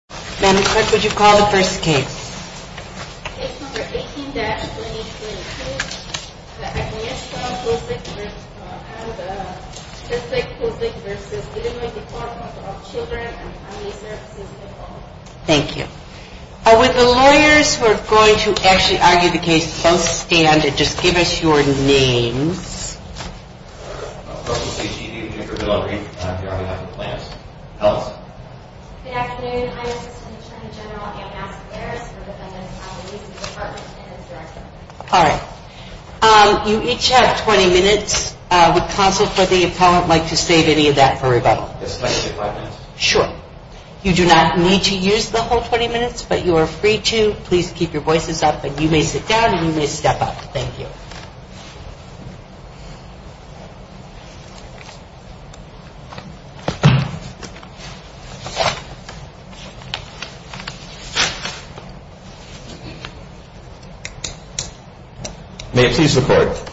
Case 18-2022 Agnieszka Bozik v. Illinois Department of Children and Family Services, Oklahoma Thank you. With the lawyers who are going to actually argue the case, both stand and just give us your names. I'm a personal safety agent here for Delaware County on behalf of the Plans. Good afternoon, I'm Assistant Attorney General Ann Askaris for the Defendant's Appalachian Department and its Director. All right. You each have 20 minutes. Would counsel for the appellant like to save any of that for rebuttal? Yes, please, five minutes. Sure. You do not need to use the whole 20 minutes, but you are free to. Please keep your voices up and you may sit down and you may step up. Thank you. May it please the Court.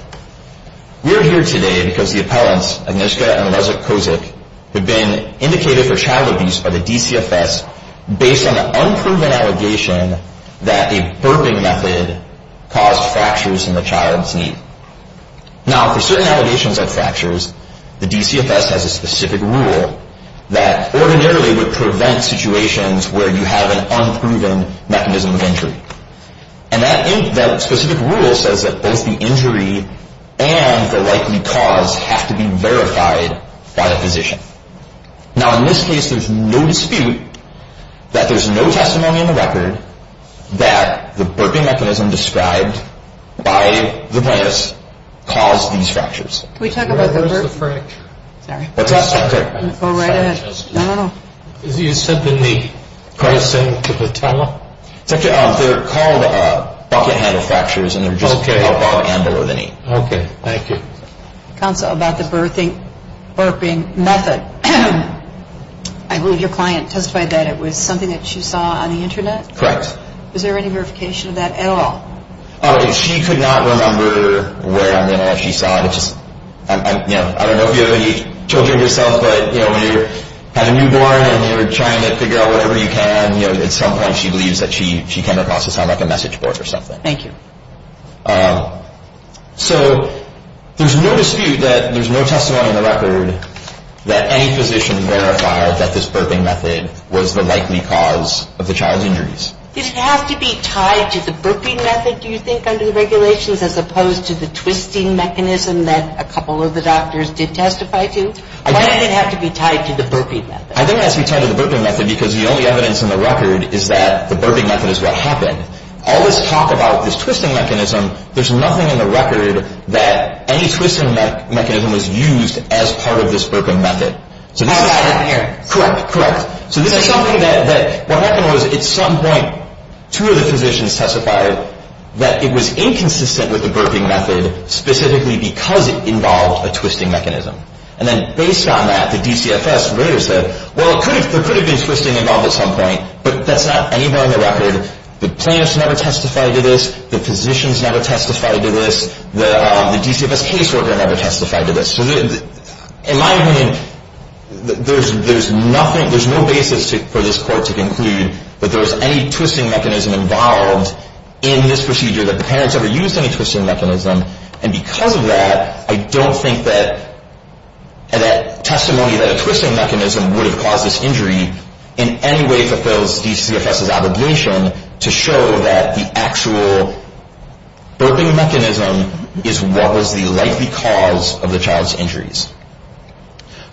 We are here today because the appellants, Agnieszka and Reza Kozik, have been indicated for child abuse by the DCFS based on an unproven allegation that a burping method caused fractures in the child's knee. Now, for certain allegations of fractures, the DCFS has a specific rule that ordinarily would prevent situations where you have an unproven mechanism of injury. And that specific rule says that both the injury and the likely cause have to be verified by the physician. Now, in this case, there's no dispute that there's no testimony in the record that the burping mechanism described by the plaintiff's caused these fractures. Can we talk about the burp? Where is the fracture? Sorry. What's that? Go right ahead. No, no, no. Is he assembling the carousel to the towel? They're called bucket handle fractures and they're just above and below the knee. Okay. Thank you. Counsel, about the burping method, I believe your client testified that it was something that she saw on the Internet? Correct. Was there any verification of that at all? She could not remember where on the Internet she saw it. I don't know if you have any children yourself, but when you have a newborn and you're trying to figure out whatever you can, at some point she believes that she came across something like a message board or something. Thank you. So there's no dispute that there's no testimony in the record that any physician verified that this burping method was the likely cause of the child's injuries. Does it have to be tied to the burping method, do you think, under the regulations, as opposed to the twisting mechanism that a couple of the doctors did testify to? Why did it have to be tied to the burping method? I think it has to be tied to the burping method because the only evidence in the record is that the burping method is what happened. All this talk about this twisting mechanism, there's nothing in the record that any twisting mechanism was used as part of this burping method. So this is something that what happened was at some point two of the physicians testified that it was inconsistent with the burping method, specifically because it involved a twisting mechanism. And then based on that, the DCFS later said, well, there could have been twisting involved at some point, but that's not anywhere in the record. The plaintiffs never testified to this. The physicians never testified to this. The DCFS caseworker never testified to this. So in my opinion, there's no basis for this court to conclude that there was any twisting mechanism involved in this procedure, that the parents ever used any twisting mechanism. And because of that, I don't think that testimony that a twisting mechanism would have caused this injury in any way fulfills DCFS' obligation to show that the actual burping mechanism is what was the likely cause of the child's injuries.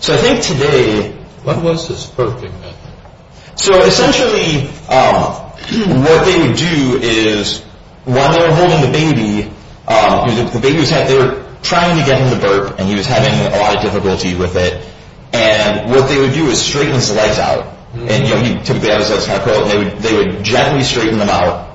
So I think today... What was this burping method? So essentially what they would do is when they were holding the baby, they were trying to get him to burp, and he was having a lot of difficulty with it. And what they would do is straighten his legs out. And, you know, they would gently straighten them out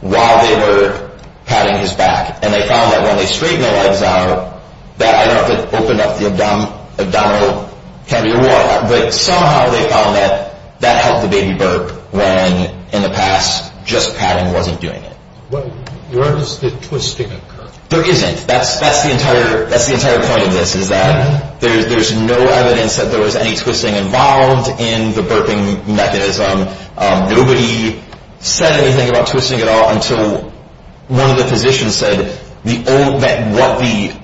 while they were patting his back. And they found that when they straightened the legs out, that opened up the abdominal cavity or what, but somehow they found that that helped the baby burp when, in the past, just patting wasn't doing it. Where does the twisting occur? There isn't. That's the entire point of this is that there's no evidence that there was any twisting involved in the burping mechanism. Nobody said anything about twisting at all until one of the physicians said that what the...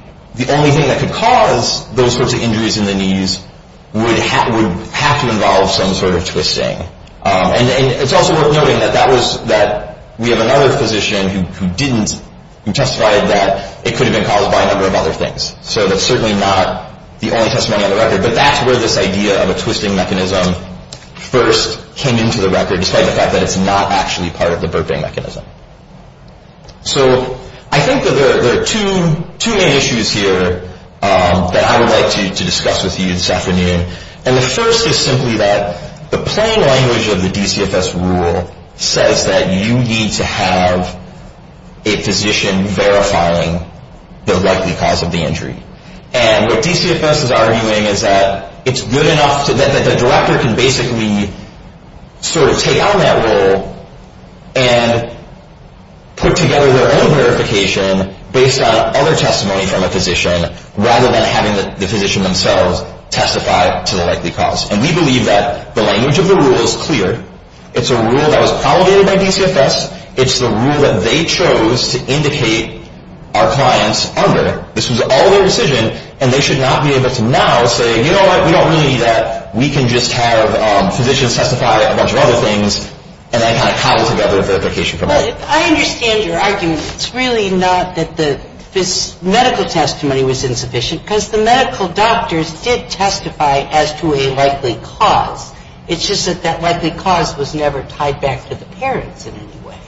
would have to involve some sort of twisting. And it's also worth noting that we have another physician who didn't, who testified that it could have been caused by a number of other things. So that's certainly not the only testimony on the record. But that's where this idea of a twisting mechanism first came into the record, despite the fact that it's not actually part of the burping mechanism. So I think that there are two main issues here that I would like to discuss with you this afternoon. And the first is simply that the plain language of the DCFS rule says that you need to have a physician verifying the likely cause of the injury. And what DCFS is arguing is that it's good enough so that the director can basically sort of take on that role and put together their own verification based on other testimony from a physician, rather than having the physician themselves testify to the likely cause. And we believe that the language of the rule is clear. It's a rule that was promulgated by DCFS. It's the rule that they chose to indicate our clients under. This was all their decision, and they should not be able to now say, you know what, we don't really need that, we can just have physicians testify to a bunch of other things, and then kind of cobble together the verification from that. But I understand your argument. It's really not that this medical testimony was insufficient, because the medical doctors did testify as to a likely cause. It's just that that likely cause was never tied back to the parents in any way.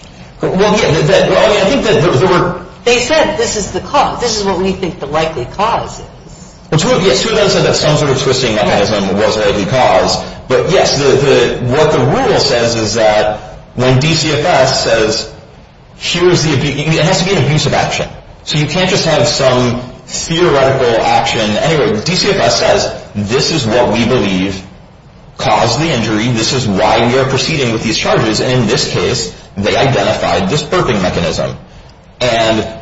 Well, yeah, I think that there were. They said this is the cause. This is what we think the likely cause is. Well, yes, two of them said that some sort of twisting mechanism was the likely cause. But yes, what the rule says is that when DCFS says, it has to be an abusive action. So you can't just have some theoretical action. Anyway, DCFS says, this is what we believe caused the injury. This is why we are proceeding with these charges. And in this case, they identified this burping mechanism. And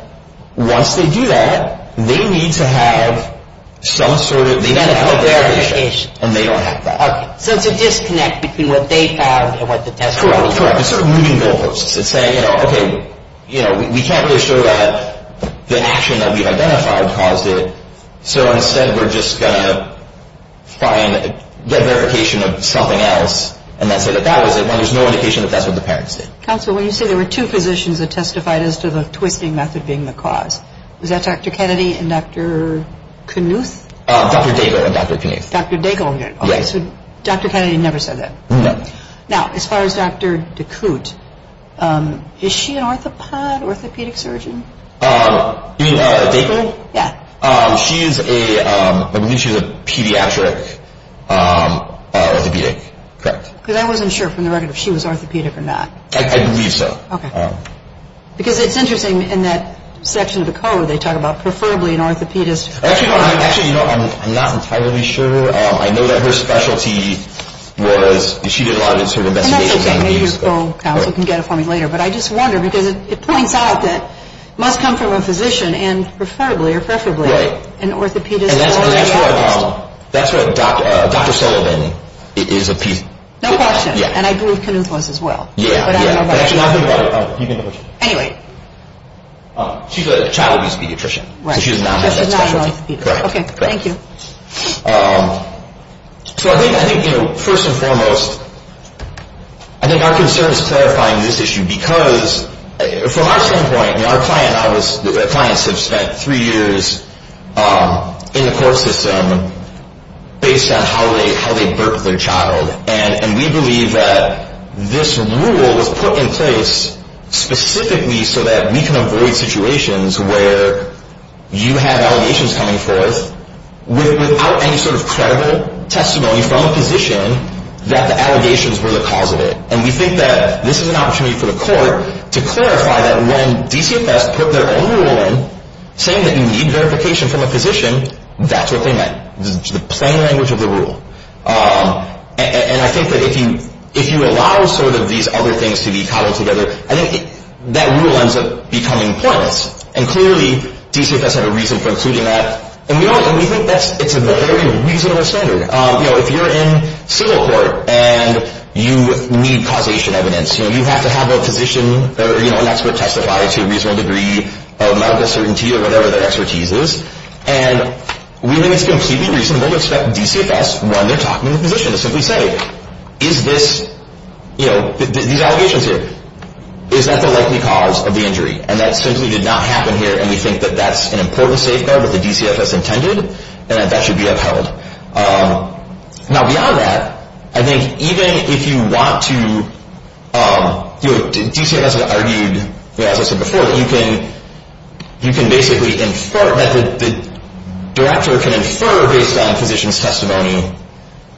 once they do that, they need to have some sort of verification. And they don't have that. Okay, so it's a disconnect between what they found and what the testifies. Correct, correct. It's sort of moving goalposts. It's saying, you know, okay, we can't really show that the action that we've identified caused it, so instead we're just going to try and get verification of something else and then say that that was it when there's no indication that that's what the parents did. Counsel, when you say there were two physicians that testified as to the twisting method being the cause, was that Dr. Kennedy and Dr. Knuth? Dr. Daigle and Dr. Knuth. Dr. Daigle. Yes. Dr. Kennedy never said that. No. Now, as far as Dr. DeCoute, is she an orthopod, orthopedic surgeon? You mean Daigle? Yeah. She's a pediatric orthopedic, correct. Because I wasn't sure from the record if she was orthopedic or not. I believe so. Okay. Because it's interesting in that section of the code they talk about preferably an orthopedist. Actually, you know, I'm not entirely sure. I know that her specialty was, she did a lot of sort of investigations on these. And that's okay. Maybe your co-counsel can get it for me later. But I just wonder because it points out that it must come from a physician and preferably or preferably an orthopedist. Right. And that's where Dr. Sullivan is a piece. No question. Yeah. And I believe Knuth was as well. Yeah. But I don't know about that. Actually, I've been brought up. You've been brought up. Anyway. She's a child abuse pediatrician. Right. So she does not have that specialty. Okay. Thank you. So I think, you know, first and foremost, I think our concern is clarifying this issue because from our standpoint, you know, our clients have spent three years in the court system based on how they birth their child. And we believe that this rule was put in place specifically so that we can avoid situations where you have allegations coming forth without any sort of credible testimony from a physician that the allegations were the cause of it. And we think that this is an opportunity for the court to clarify that when DCFS put their own rule in, saying that you need verification from a physician, that's what they meant. This is the plain language of the rule. And I think that if you allow sort of these other things to be cobbled together, I think that rule ends up becoming pointless. And clearly, DCFS had a reason for including that. And we think it's a very reasonable standard. You know, if you're in civil court and you need causation evidence, you know, you have to have a physician or, you know, an expert testify to a reasonable degree of medical certainty or whatever their expertise is. And we think it's completely reasonable to expect DCFS, when they're talking to the physician, to simply say, is this, you know, these allegations here, is that the likely cause of the injury? And that simply did not happen here, and we think that that's an important safeguard that the DCFS intended, and that that should be upheld. Now, beyond that, I think even if you want to, you know, DCFS argued, as I said before, that you can basically infer, that the director can infer based on physician's testimony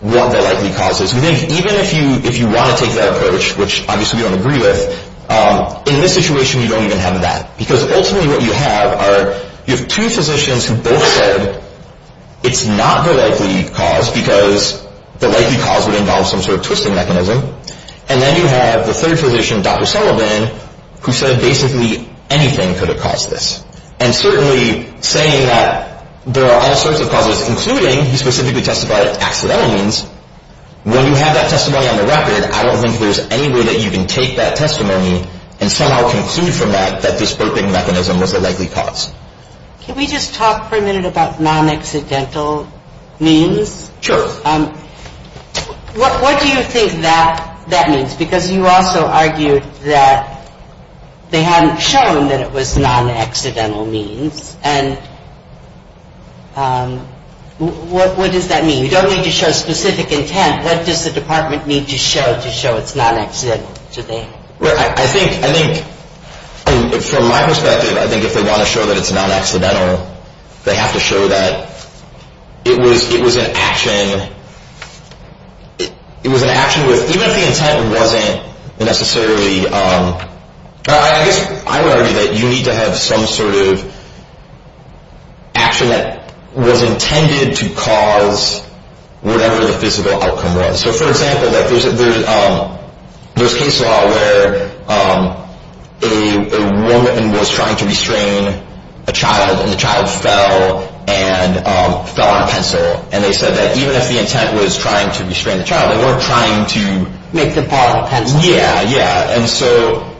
what the likely cause is. We think even if you want to take that approach, which obviously we don't agree with, in this situation you don't even have that. Because ultimately what you have are you have two physicians who both said it's not the likely cause because the likely cause would involve some sort of twisting mechanism. And then you have the third physician, Dr. Sullivan, who said basically anything could have caused this. And certainly saying that there are all sorts of causes, including, he specifically testified, accidental means, when you have that testimony on the record, I don't think there's any way that you can take that testimony and somehow conclude from that that this twisting mechanism was the likely cause. Can we just talk for a minute about non-accidental means? Sure. What do you think that means? Because you also argued that they hadn't shown that it was non-accidental means. And what does that mean? You don't need to show specific intent. What does the department need to show to show it's non-accidental? I think from my perspective, I think if they want to show that it's non-accidental, they have to show that it was an action with, even if the intent wasn't necessarily, I would argue that you need to have some sort of action that was intended to cause whatever the physical outcome was. So, for example, there's case law where a woman was trying to restrain a child, and the child fell on a pencil. And they said that even if the intent was trying to restrain the child, they weren't trying to make the ball a pencil. Yeah, yeah. Because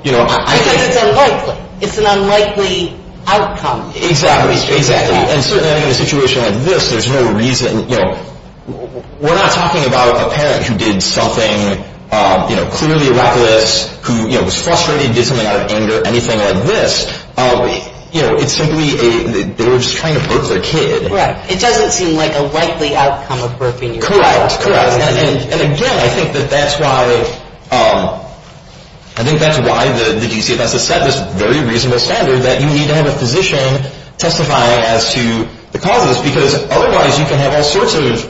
it's unlikely. It's an unlikely outcome. Exactly. And certainly in a situation like this, there's no reason. We're not talking about a parent who did something clearly reckless, who was frustrated, did something out of anger, anything like this. It's simply they were just trying to hurt their kid. Right. It doesn't seem like a likely outcome of hurting your child. Correct, correct. And again, I think that that's why the DCFS has set this very reasonable standard that you need to have a physician testifying as to the causes. Because otherwise you can have all sorts of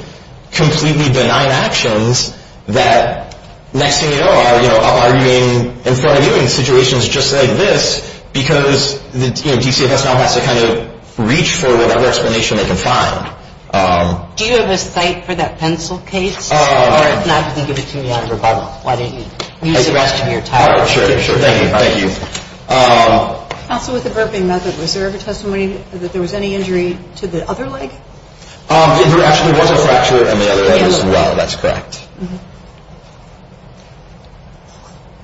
completely benign actions that next thing you know are, you know, arguing in front of you in situations just like this because, you know, DCFS now has to kind of reach for whatever explanation they can find. Do you have a cite for that pencil case? Or if not, you can give it to me out of rebuttal. Why don't you use the rest of your time? Sure, sure. Thank you. Thank you. Counsel, with the burping method, was there ever testimony that there was any injury to the other leg? There actually was a fracture in the other leg as well. That's correct.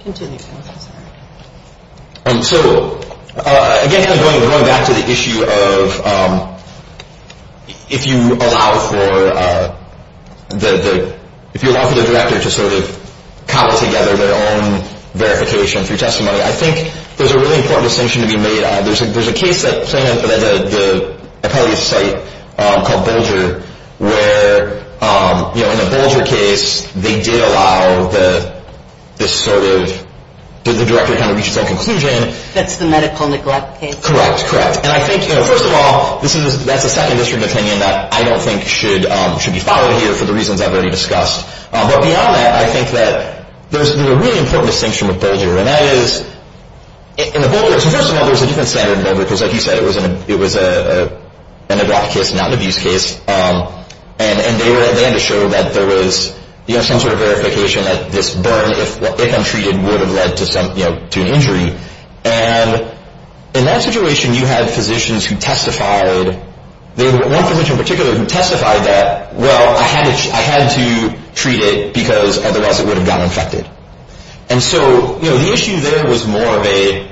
Continue. So, again, going back to the issue of if you allow for the director to sort of cobble together their own verification through testimony, I think there's a really important distinction to be made. There's a case that I probably cite called Bolger where, you know, in the Bolger case, they did allow this sort of, did the director kind of reach his own conclusion? That's the medical neglect case. Correct, correct. And I think, you know, first of all, that's a second district opinion that I don't think should be followed here for the reasons I've already discussed. But beyond that, I think that there's a really important distinction with Bolger, and that is in the Bolger, so first of all, there's a different standard in Bolger because, like you said, it was an neglect case, not an abuse case, and they had to show that there was, you know, some sort of verification that this burn, if untreated, would have led to some, you know, to an injury. And in that situation, you had physicians who testified, one physician in particular who testified that, well, I had to treat it because otherwise it would have gotten infected. And so, you know, the issue there was more of a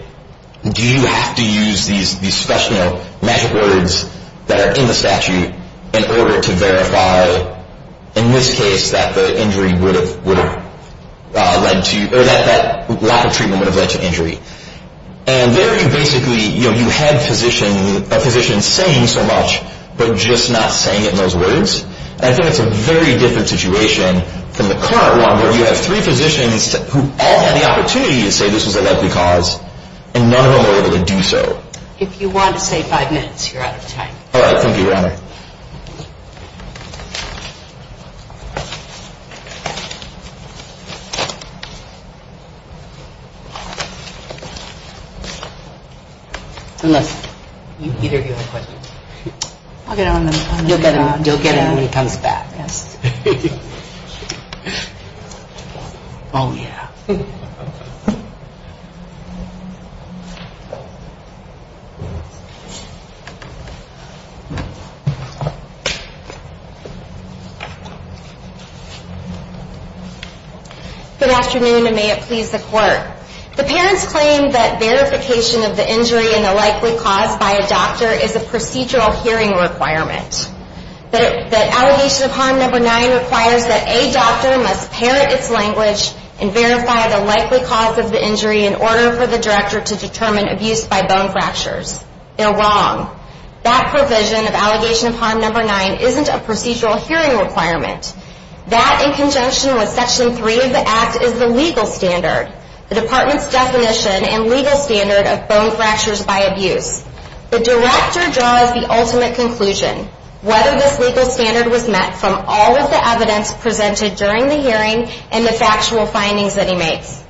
do you have to use these special, you know, magic words that are in the statute in order to verify, in this case, that the injury would have led to, or that lack of treatment would have led to injury. And there you basically, you know, you had a physician saying so much but just not saying it in those words. And I think it's a very different situation than the current one where you have three physicians who all had the opportunity to say this was a likely cause, and none of them were able to do so. If you want to say five minutes, you're out of time. All right. Thank you, Your Honor. Unless either of you have questions. I'll get on the phone. You'll get it when he comes back. Yes. Oh, yeah. The parents claim that verification of the injury and the likely cause by a doctor is a procedural hearing requirement. The allegation of harm number nine requires that a doctor must parent its language and verify the likely cause of the injury in order for the director to determine abuse by bone fractures. They're wrong. That provision of allegation of harm number nine isn't a procedural hearing requirement. That, in conjunction with Section 3 of the Act, is the legal standard, the department's definition and legal standard of bone fractures by abuse. The director draws the ultimate conclusion, whether this legal standard was met from all of the evidence presented during the hearing and the factual findings that he makes.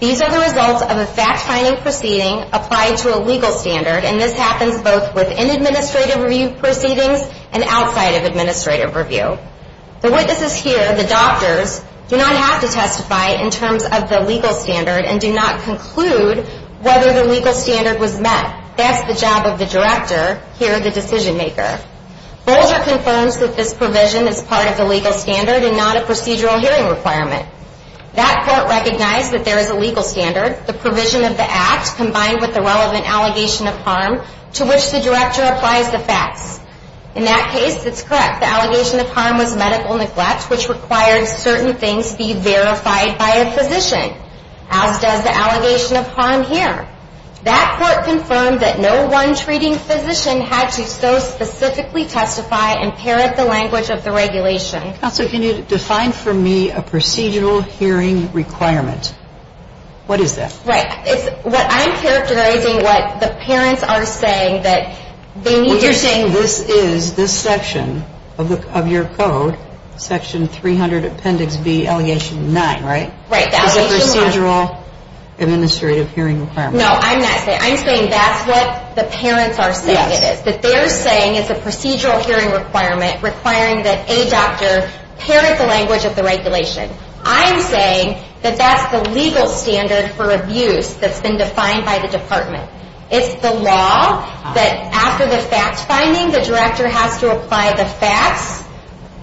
These are the results of a fact-finding proceeding applied to a legal standard, and this happens both within administrative review proceedings and outside of administrative review. The witnesses here, the doctors, do not have to testify in terms of the legal standard and do not conclude whether the legal standard was met. That's the job of the director here, the decision-maker. Bolger confirms that this provision is part of the legal standard and not a procedural hearing requirement. That court recognized that there is a legal standard. The provision of the Act, combined with the relevant allegation of harm, to which the director applies the facts. In that case, it's correct. The allegation of harm was medical neglect, which required certain things be verified by a physician, as does the allegation of harm here. That court confirmed that no one treating physician had to so specifically testify and parrot the language of the regulation. Counsel, can you define for me a procedural hearing requirement? What is that? Right. It's what I'm characterizing what the parents are saying that they need to say. What you're saying is this section of your code, section 300, appendix B, allegation 9, right? Right. It's a procedural administrative hearing requirement. No, I'm not saying that. I'm saying that's what the parents are saying it is. That they're saying it's a procedural hearing requirement requiring that a doctor parrot the language of the regulation. I'm saying that that's the legal standard for abuse that's been defined by the department. It's the law that after the fact-finding, the director has to apply the facts,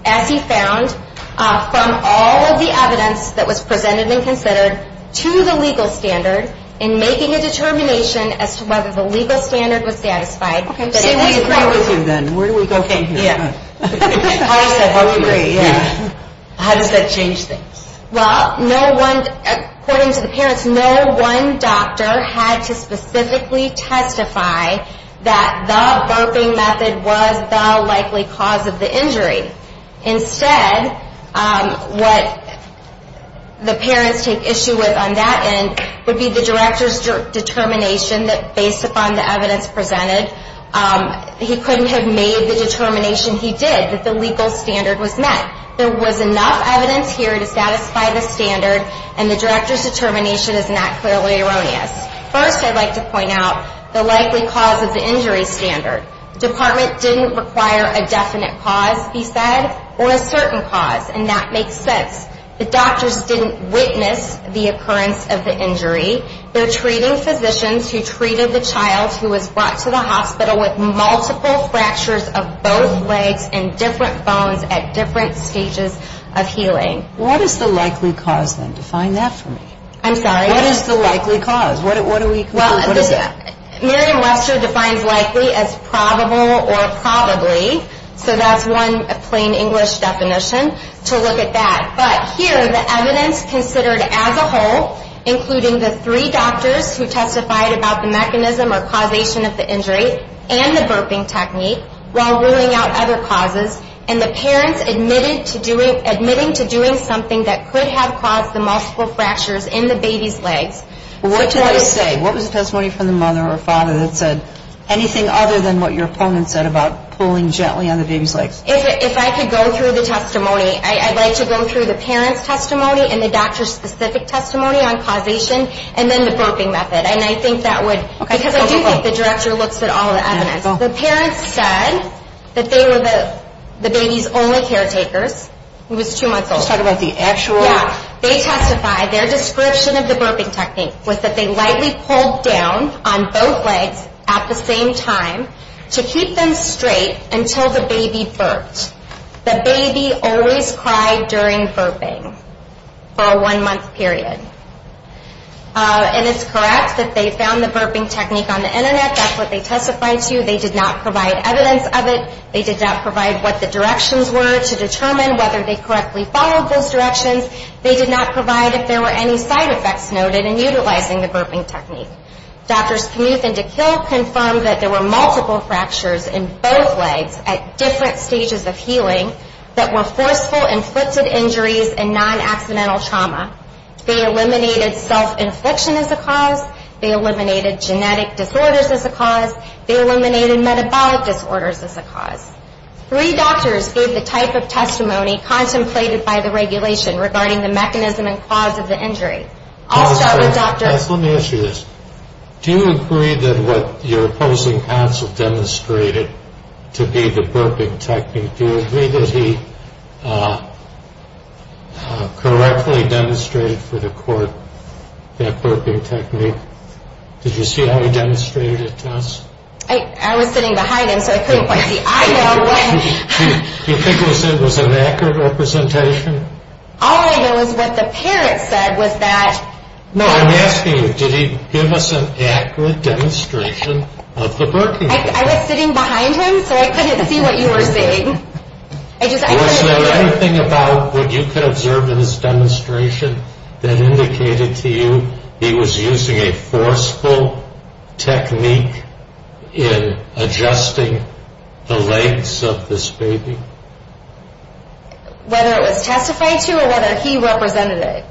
as he found, from all of the evidence that was presented and considered to the legal standard in making a determination as to whether the legal standard was satisfied. Okay. Where do we go from here? How does that help you? How does that change things? Well, according to the parents, no one doctor had to specifically testify that the burping method was the likely cause of the injury. Instead, what the parents take issue with on that end would be the director's determination that based upon the evidence presented, he couldn't have made the determination he did, that the legal standard was met. There was enough evidence here to satisfy the standard, and the director's determination is not clearly erroneous. First, I'd like to point out the likely cause of the injury standard. The department didn't require a definite cause, he said, or a certain cause, and that makes sense. The doctors didn't witness the occurrence of the injury. They're treating physicians who treated the child who was brought to the hospital with multiple fractures of both legs and different bones at different stages of healing. What is the likely cause, then? Define that for me. I'm sorry? What is the likely cause? What do we conclude? What is that? Miriam Webster defines likely as probable or probably, so that's one plain English definition to look at that. But here, the evidence considered as a whole, including the three doctors who testified about the mechanism or causation of the injury and the burping technique while ruling out other causes, and the parents admitting to doing something that could have caused the multiple fractures in the baby's legs. What do they say? What was the testimony from the mother or father that said anything other than what your opponent said about pulling gently on the baby's legs? If I could go through the testimony, I'd like to go through the parent's testimony and the doctor's specific testimony on causation and then the burping method. And I think that would, because I do think the director looks at all the evidence. The parents said that they were the baby's only caretakers. He was two months old. You're talking about the actual? Yeah. They testified their description of the burping technique was that they lightly pulled down on both legs at the same time to keep them straight until the baby burped. The baby always cried during burping for a one-month period. And it's correct that they found the burping technique on the Internet. That's what they testified to. They did not provide evidence of it. They did not provide what the directions were to determine whether they correctly followed those directions. They did not provide if there were any side effects noted in utilizing the burping technique. Doctors Knuth and DeKill confirmed that there were multiple fractures in both legs at different stages of healing that were forceful, inflicted injuries and non-accidental trauma. They eliminated self-infliction as a cause. They eliminated genetic disorders as a cause. They eliminated metabolic disorders as a cause. Three doctors gave the type of testimony contemplated by the regulation regarding the mechanism and cause of the injury. I'll start with Dr. Let me ask you this. Do you agree that what your opposing counsel demonstrated to be the burping technique, do you agree that he correctly demonstrated for the court that burping technique? Did you see how he demonstrated it to us? I was sitting behind him so I couldn't quite see. I know what... Do you think it was an accurate representation? All I know is what the parent said was that... No, I'm asking you, did he give us an accurate demonstration of the burping technique? I was sitting behind him so I couldn't see what you were saying. Was there anything about what you could observe in his demonstration that indicated to you he was using a forceful technique in adjusting the legs of this baby? Whether it was testified to or whether he represented it.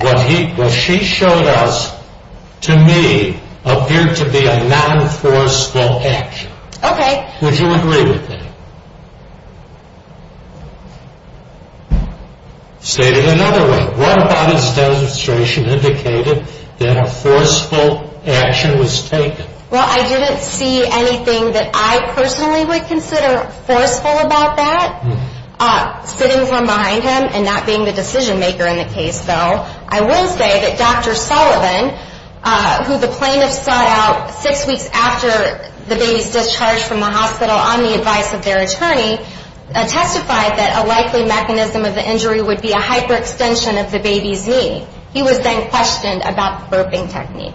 What she showed us, to me, appeared to be a non-forceful action. Okay. Would you agree with that? State it another way. What about his demonstration indicated that a forceful action was taken? Well, I didn't see anything that I personally would consider forceful about that. Sitting from behind him and not being the decision maker in the case, though, I will say that Dr. Sullivan, who the plaintiffs sought out six weeks after the baby's discharge from the hospital on the advice of their attorney, testified that a likely mechanism of the injury would be a hyperextension of the baby's knee. He was then questioned about the burping technique.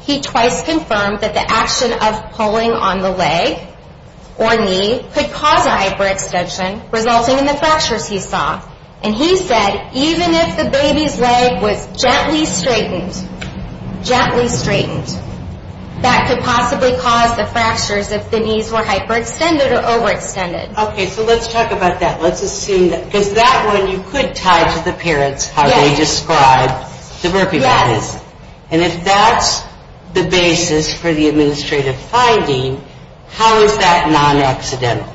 He twice confirmed that the action of pulling on the leg or knee could cause a hyperextension resulting in the fractures he saw. And he said even if the baby's leg was gently straightened, gently straightened, that could possibly cause the fractures if the knees were hyperextended or overextended. Okay, so let's talk about that. Let's assume that. Because that one you could tie to the parents how they described the burping practice. Yes. And if that's the basis for the administrative finding, how is that non-accidental?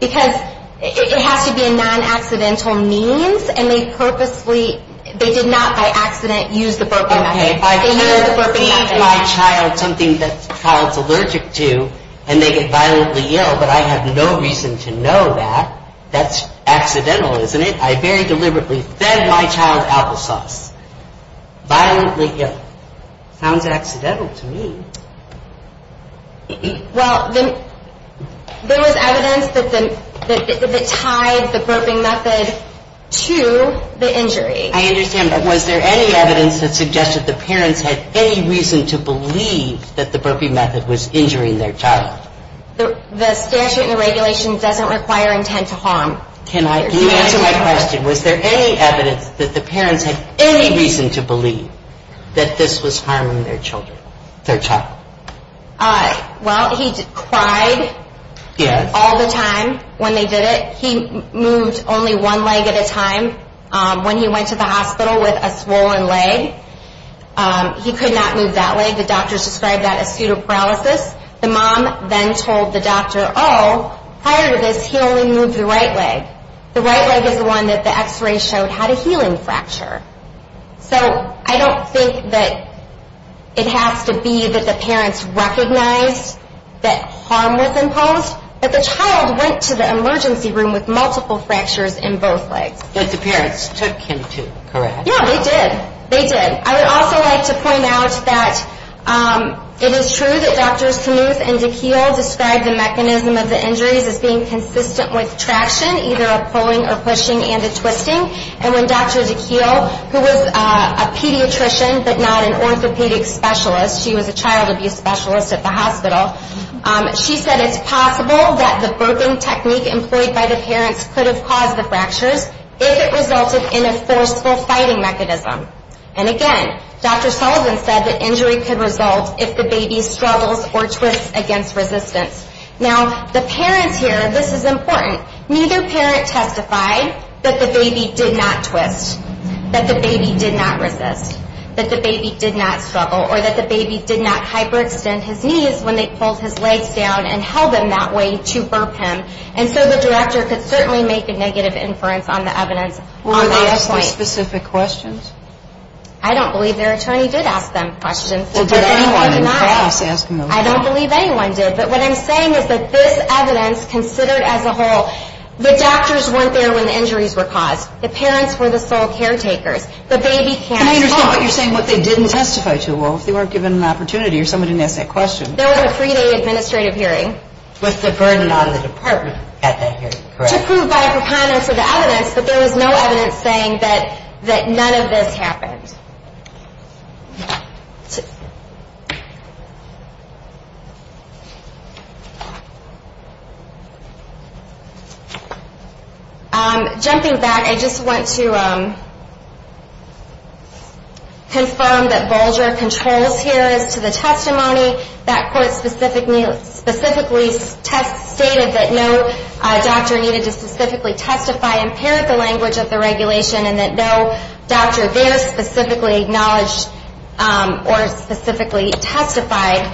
Because it has to be a non-accidental means. And they purposely, they did not by accident use the burping method. Okay, if I can't feed my child something that the child's allergic to and they get violently ill, but I have no reason to know that, that's accidental, isn't it? I very deliberately fed my child applesauce. Violently ill. Sounds accidental to me. Well, there was evidence that tied the burping method to the injury. I understand that. Was there any evidence that suggested the parents had any reason to believe that the burping method was injuring their child? The statute and the regulation doesn't require intent to harm. Can you answer my question? Was there any evidence that the parents had any reason to believe that this was harming their child? Well, he cried all the time when they did it. He moved only one leg at a time when he went to the hospital with a swollen leg. He could not move that leg. The doctors described that as pseudoparalysis. The mom then told the doctor, oh, prior to this he only moved the right leg. The right leg is the one that the x-ray showed had a healing fracture. So I don't think that it has to be that the parents recognized that harm was imposed, but the child went to the emergency room with multiple fractures in both legs. But the parents took him to, correct? Yeah, they did. They did. I would also like to point out that it is true that Drs. Knuth and DeKeele described the mechanism of the injuries as being consistent with traction, either a pulling or pushing and a twisting. And when Dr. DeKeele, who was a pediatrician but not an orthopedic specialist, she was a child abuse specialist at the hospital, she said it's possible that the broken technique employed by the parents could have caused the fractures if it resulted in a forceful fighting mechanism. And again, Dr. Sullivan said the injury could result if the baby struggles or twists against resistance. Now, the parents here, this is important, neither parent testified that the baby did not twist, that the baby did not resist, that the baby did not struggle, or that the baby did not hyperextend his knees when they pulled his legs down and held him that way to burp him. And so the director could certainly make a negative inference on the evidence. Were they asked those specific questions? I don't believe their attorney did ask them questions. Well, did anyone in class ask them those questions? I don't believe anyone did. But what I'm saying is that this evidence considered as a whole, the doctors weren't there when the injuries were caused, the parents were the sole caretakers, the baby can't talk. Can I understand what you're saying, what they didn't testify to? Well, if they weren't given an opportunity or somebody didn't ask that question. There was a three-day administrative hearing. With the burden on the department at that hearing, correct? To prove by a pre-conduct of the evidence, but there was no evidence saying that none of this happened. Jumping back, I just want to confirm that Volger controls here as to the testimony. That court specifically stated that no doctor needed to specifically testify because they impaired the language of the regulation and that no doctor there specifically acknowledged or specifically testified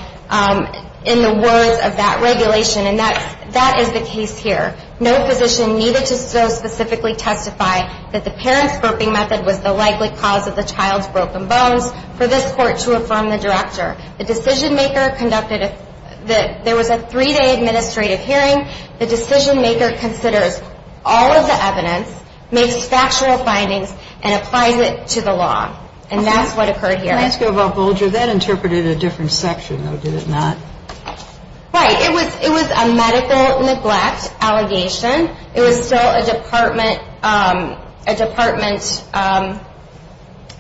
in the words of that regulation. And that is the case here. No physician needed to so specifically testify that the parent's burping method was the likely cause of the child's broken bones for this court to affirm the director. The decision maker conducted a three-day administrative hearing. The decision maker considers all of the evidence, makes factual findings, and applies it to the law. And that's what occurred here. Can I ask you about Volger? That interpreted a different section, though, did it not? Right. It was a medical neglect allegation. It was still a department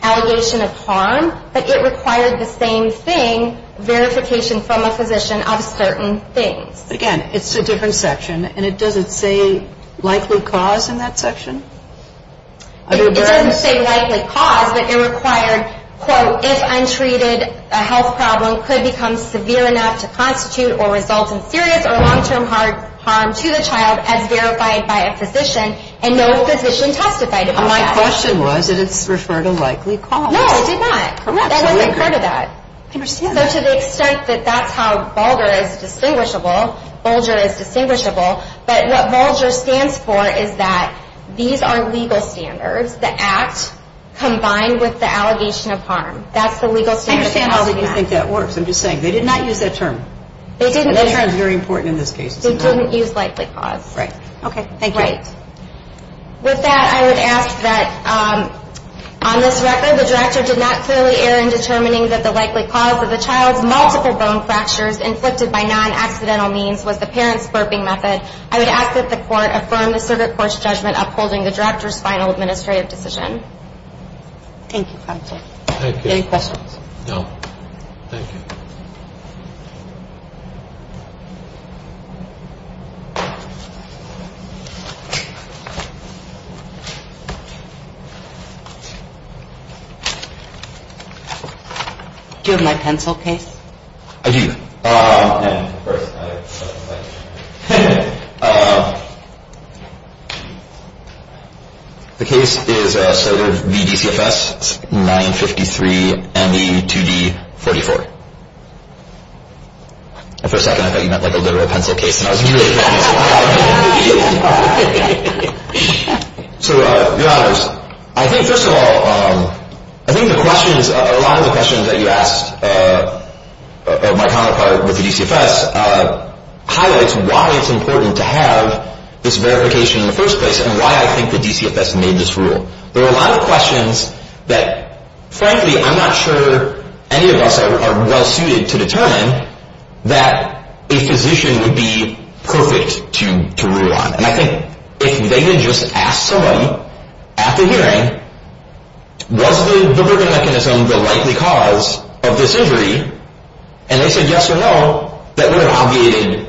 allegation of harm, but it required the same thing, verification from a physician of certain things. Again, it's a different section, and it doesn't say likely cause in that section? It doesn't say likely cause, but it required, quote, if untreated a health problem could become severe enough to constitute or result in serious or long-term harm to the child as verified by a physician and no physician testified about that. My question was that it's referred to likely cause. No, it did not. Correct. That wasn't part of that. I understand that. So to the extent that that's how Volger is distinguishable, but what Volger stands for is that these are legal standards, the act combined with the allegation of harm. That's the legal standard. I understand how you think that works. I'm just saying, they did not use that term. They didn't. That term is very important in this case. They didn't use likely cause. Right. Okay. Thank you. With that, I would ask that on this record, the court of the drafter did not clearly err in determining that the likely cause of the child's multiple bone fractures inflicted by non-accidental means was the parent's burping method. I would ask that the court affirm the circuit court's judgment upholding the drafter's final administrative decision. Thank you, counsel. Thank you. Any questions? No. Thank you. Do you have my pencil case? I do. Yeah, of course. The case is a sort of VDCFS 953ME2D44. For a second, I thought you meant like a literal pencil case. So, your honors, I think, first of all, I think a lot of the questions that you asked my counterpart with the DCFS highlights why it's important to have this verification in the first place and why I think the DCFS made this rule. There are a lot of questions that, frankly, I'm not sure any of us are well suited to determine that a physician would be perfect to rule on. And I think if they had just asked somebody at the hearing, was the burping mechanism the likely cause of this injury, and they said yes or no, that would have obviated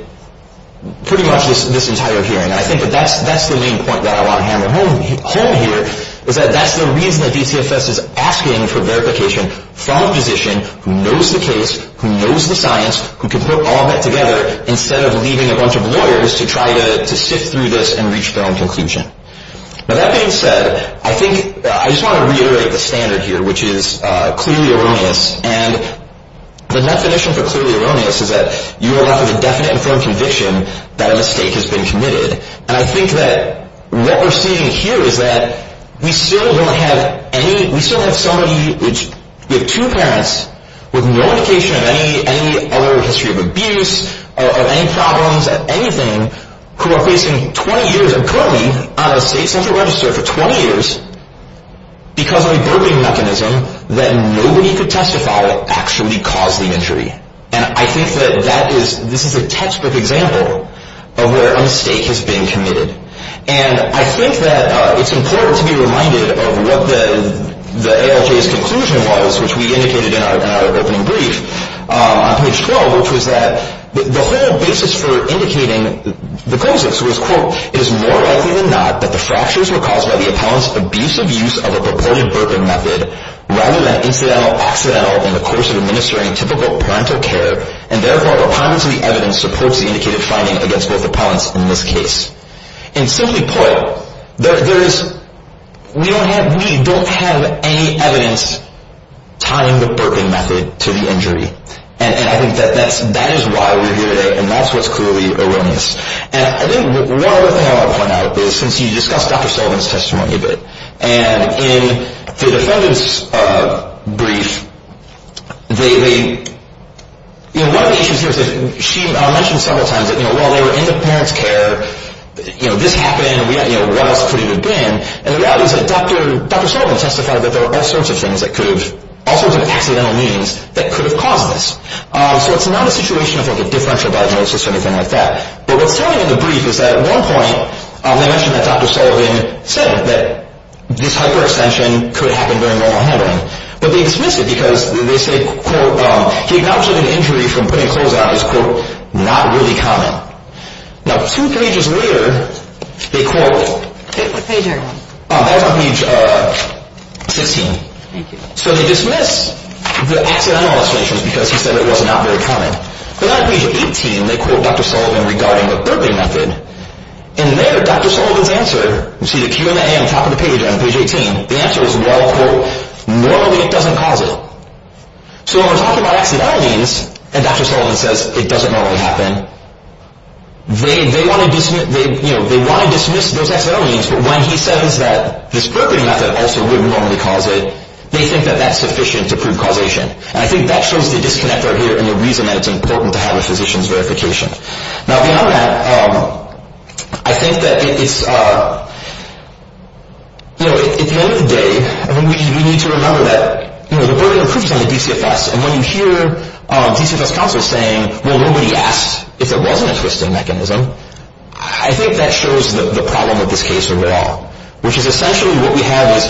pretty much this entire hearing. I think that that's the main point that I want to hammer home here is that that's the reason that DCFS is asking for verification from a physician who knows the case, who knows the science, who can put all that together instead of leaving a bunch of lawyers to try to sift through this and reach their own conclusion. Now, that being said, I think I just want to reiterate the standard here, which is clearly erroneous. And the definition for clearly erroneous is that you are left with a definite and firm conviction that a mistake has been committed. And I think that what we're seeing here is that we still don't have any, we still have somebody with two parents with no indication of any other history of abuse or any problems, anything, who are facing 20 years, are currently on a state central register for 20 years because of a burping mechanism that nobody could testify actually caused the injury. And I think that this is a textbook example of where a mistake has been committed. And I think that it's important to be reminded of what the ALJ's conclusion was, which we indicated in our opening brief on page 12, which was that the whole basis for indicating the claims was, quote, it is more likely than not that the fractures were caused by the appellant's abusive use of a purported burping method rather than incidental or accidental in the course of administering typical parental care, and therefore, according to the evidence, supports the indicated finding against both appellants in this case. And simply put, we don't have any evidence tying the burping method to the injury. And I think that that is why we're here today, and that's what's clearly erroneous. And I think one other thing I want to point out is, since you discussed Dr. Sullivan's testimony a bit, and in the defendant's brief, one of the issues here is that she mentioned several times that while they were in the parent's care, this happened, what else could it have been? And the reality is that Dr. Sullivan testified that there were all sorts of things that could have, all sorts of accidental means that could have caused this. So it's not a situation of a differential diagnosis or anything like that. But what's telling in the brief is that at one point, they mentioned that Dr. Sullivan said that this hyperextension could happen during normal handling, but they dismiss it because they say, quote, he acknowledged that an injury from putting clothes on is, quote, not really common. Now, two pages later, they quote, that's on page 16. So they dismiss the accidental illustrations because he said it was not very common. But on page 18, they quote Dr. Sullivan regarding the burping method. And there, Dr. Sullivan's answer, you see the Q and the A on top of the page on page 18, the answer is, well, quote, normally it doesn't cause it. So when we're talking about accidental means, and Dr. Sullivan says it doesn't normally happen, they want to dismiss those accidental means, but when he says that this burping method also would normally cause it, they think that that's sufficient to prove causation. And I think that shows the disconnect right here and the reason that it's important to have a physician's verification. Now, beyond that, I think that it's, you know, at the end of the day, we need to remember that, you know, the burping improves on the DCFS. And when you hear DCFS counsel saying, well, nobody asked if it wasn't a twisting mechanism, I think that shows the problem of this case overall, which is essentially what we have is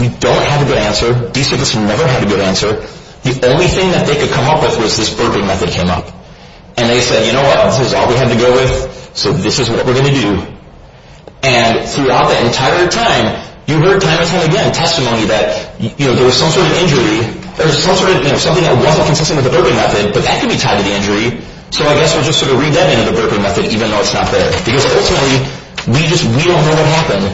we don't have a good answer. DCFS never had a good answer. The only thing that they could come up with was this burping method came up. And they said, you know what, this is all we have to go with, so this is what we're going to do. And throughout that entire time, you heard time and time again testimony that, you know, there was some sort of injury or some sort of, you know, something that wasn't consistent with the burping method, but that could be tied to the injury. So I guess we'll just sort of read that into the burping method, even though it's not there. Because ultimately, we just, we don't know what happened.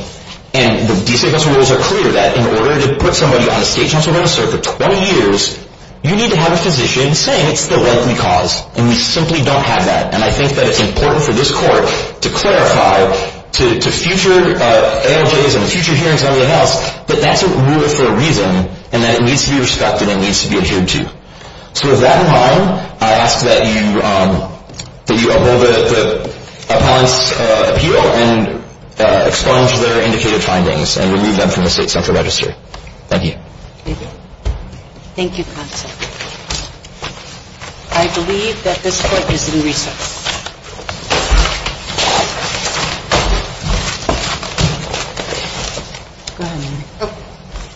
And the DCFS rules are clear that in order to put somebody on a state counselor to serve for 20 years, you need to have a physician saying it's the likely cause. And we simply don't have that. And I think that it's important for this court to clarify to future ALJs and future hearings and everything else that that's a rule for a reason, and that it needs to be respected and it needs to be adhered to. So with that in mind, I ask that you uphold the appellant's appeal and expunge their indicated findings and remove them from the state central registry. Thank you. Thank you. Thank you, counsel. I believe that this court is in recess. Thank you.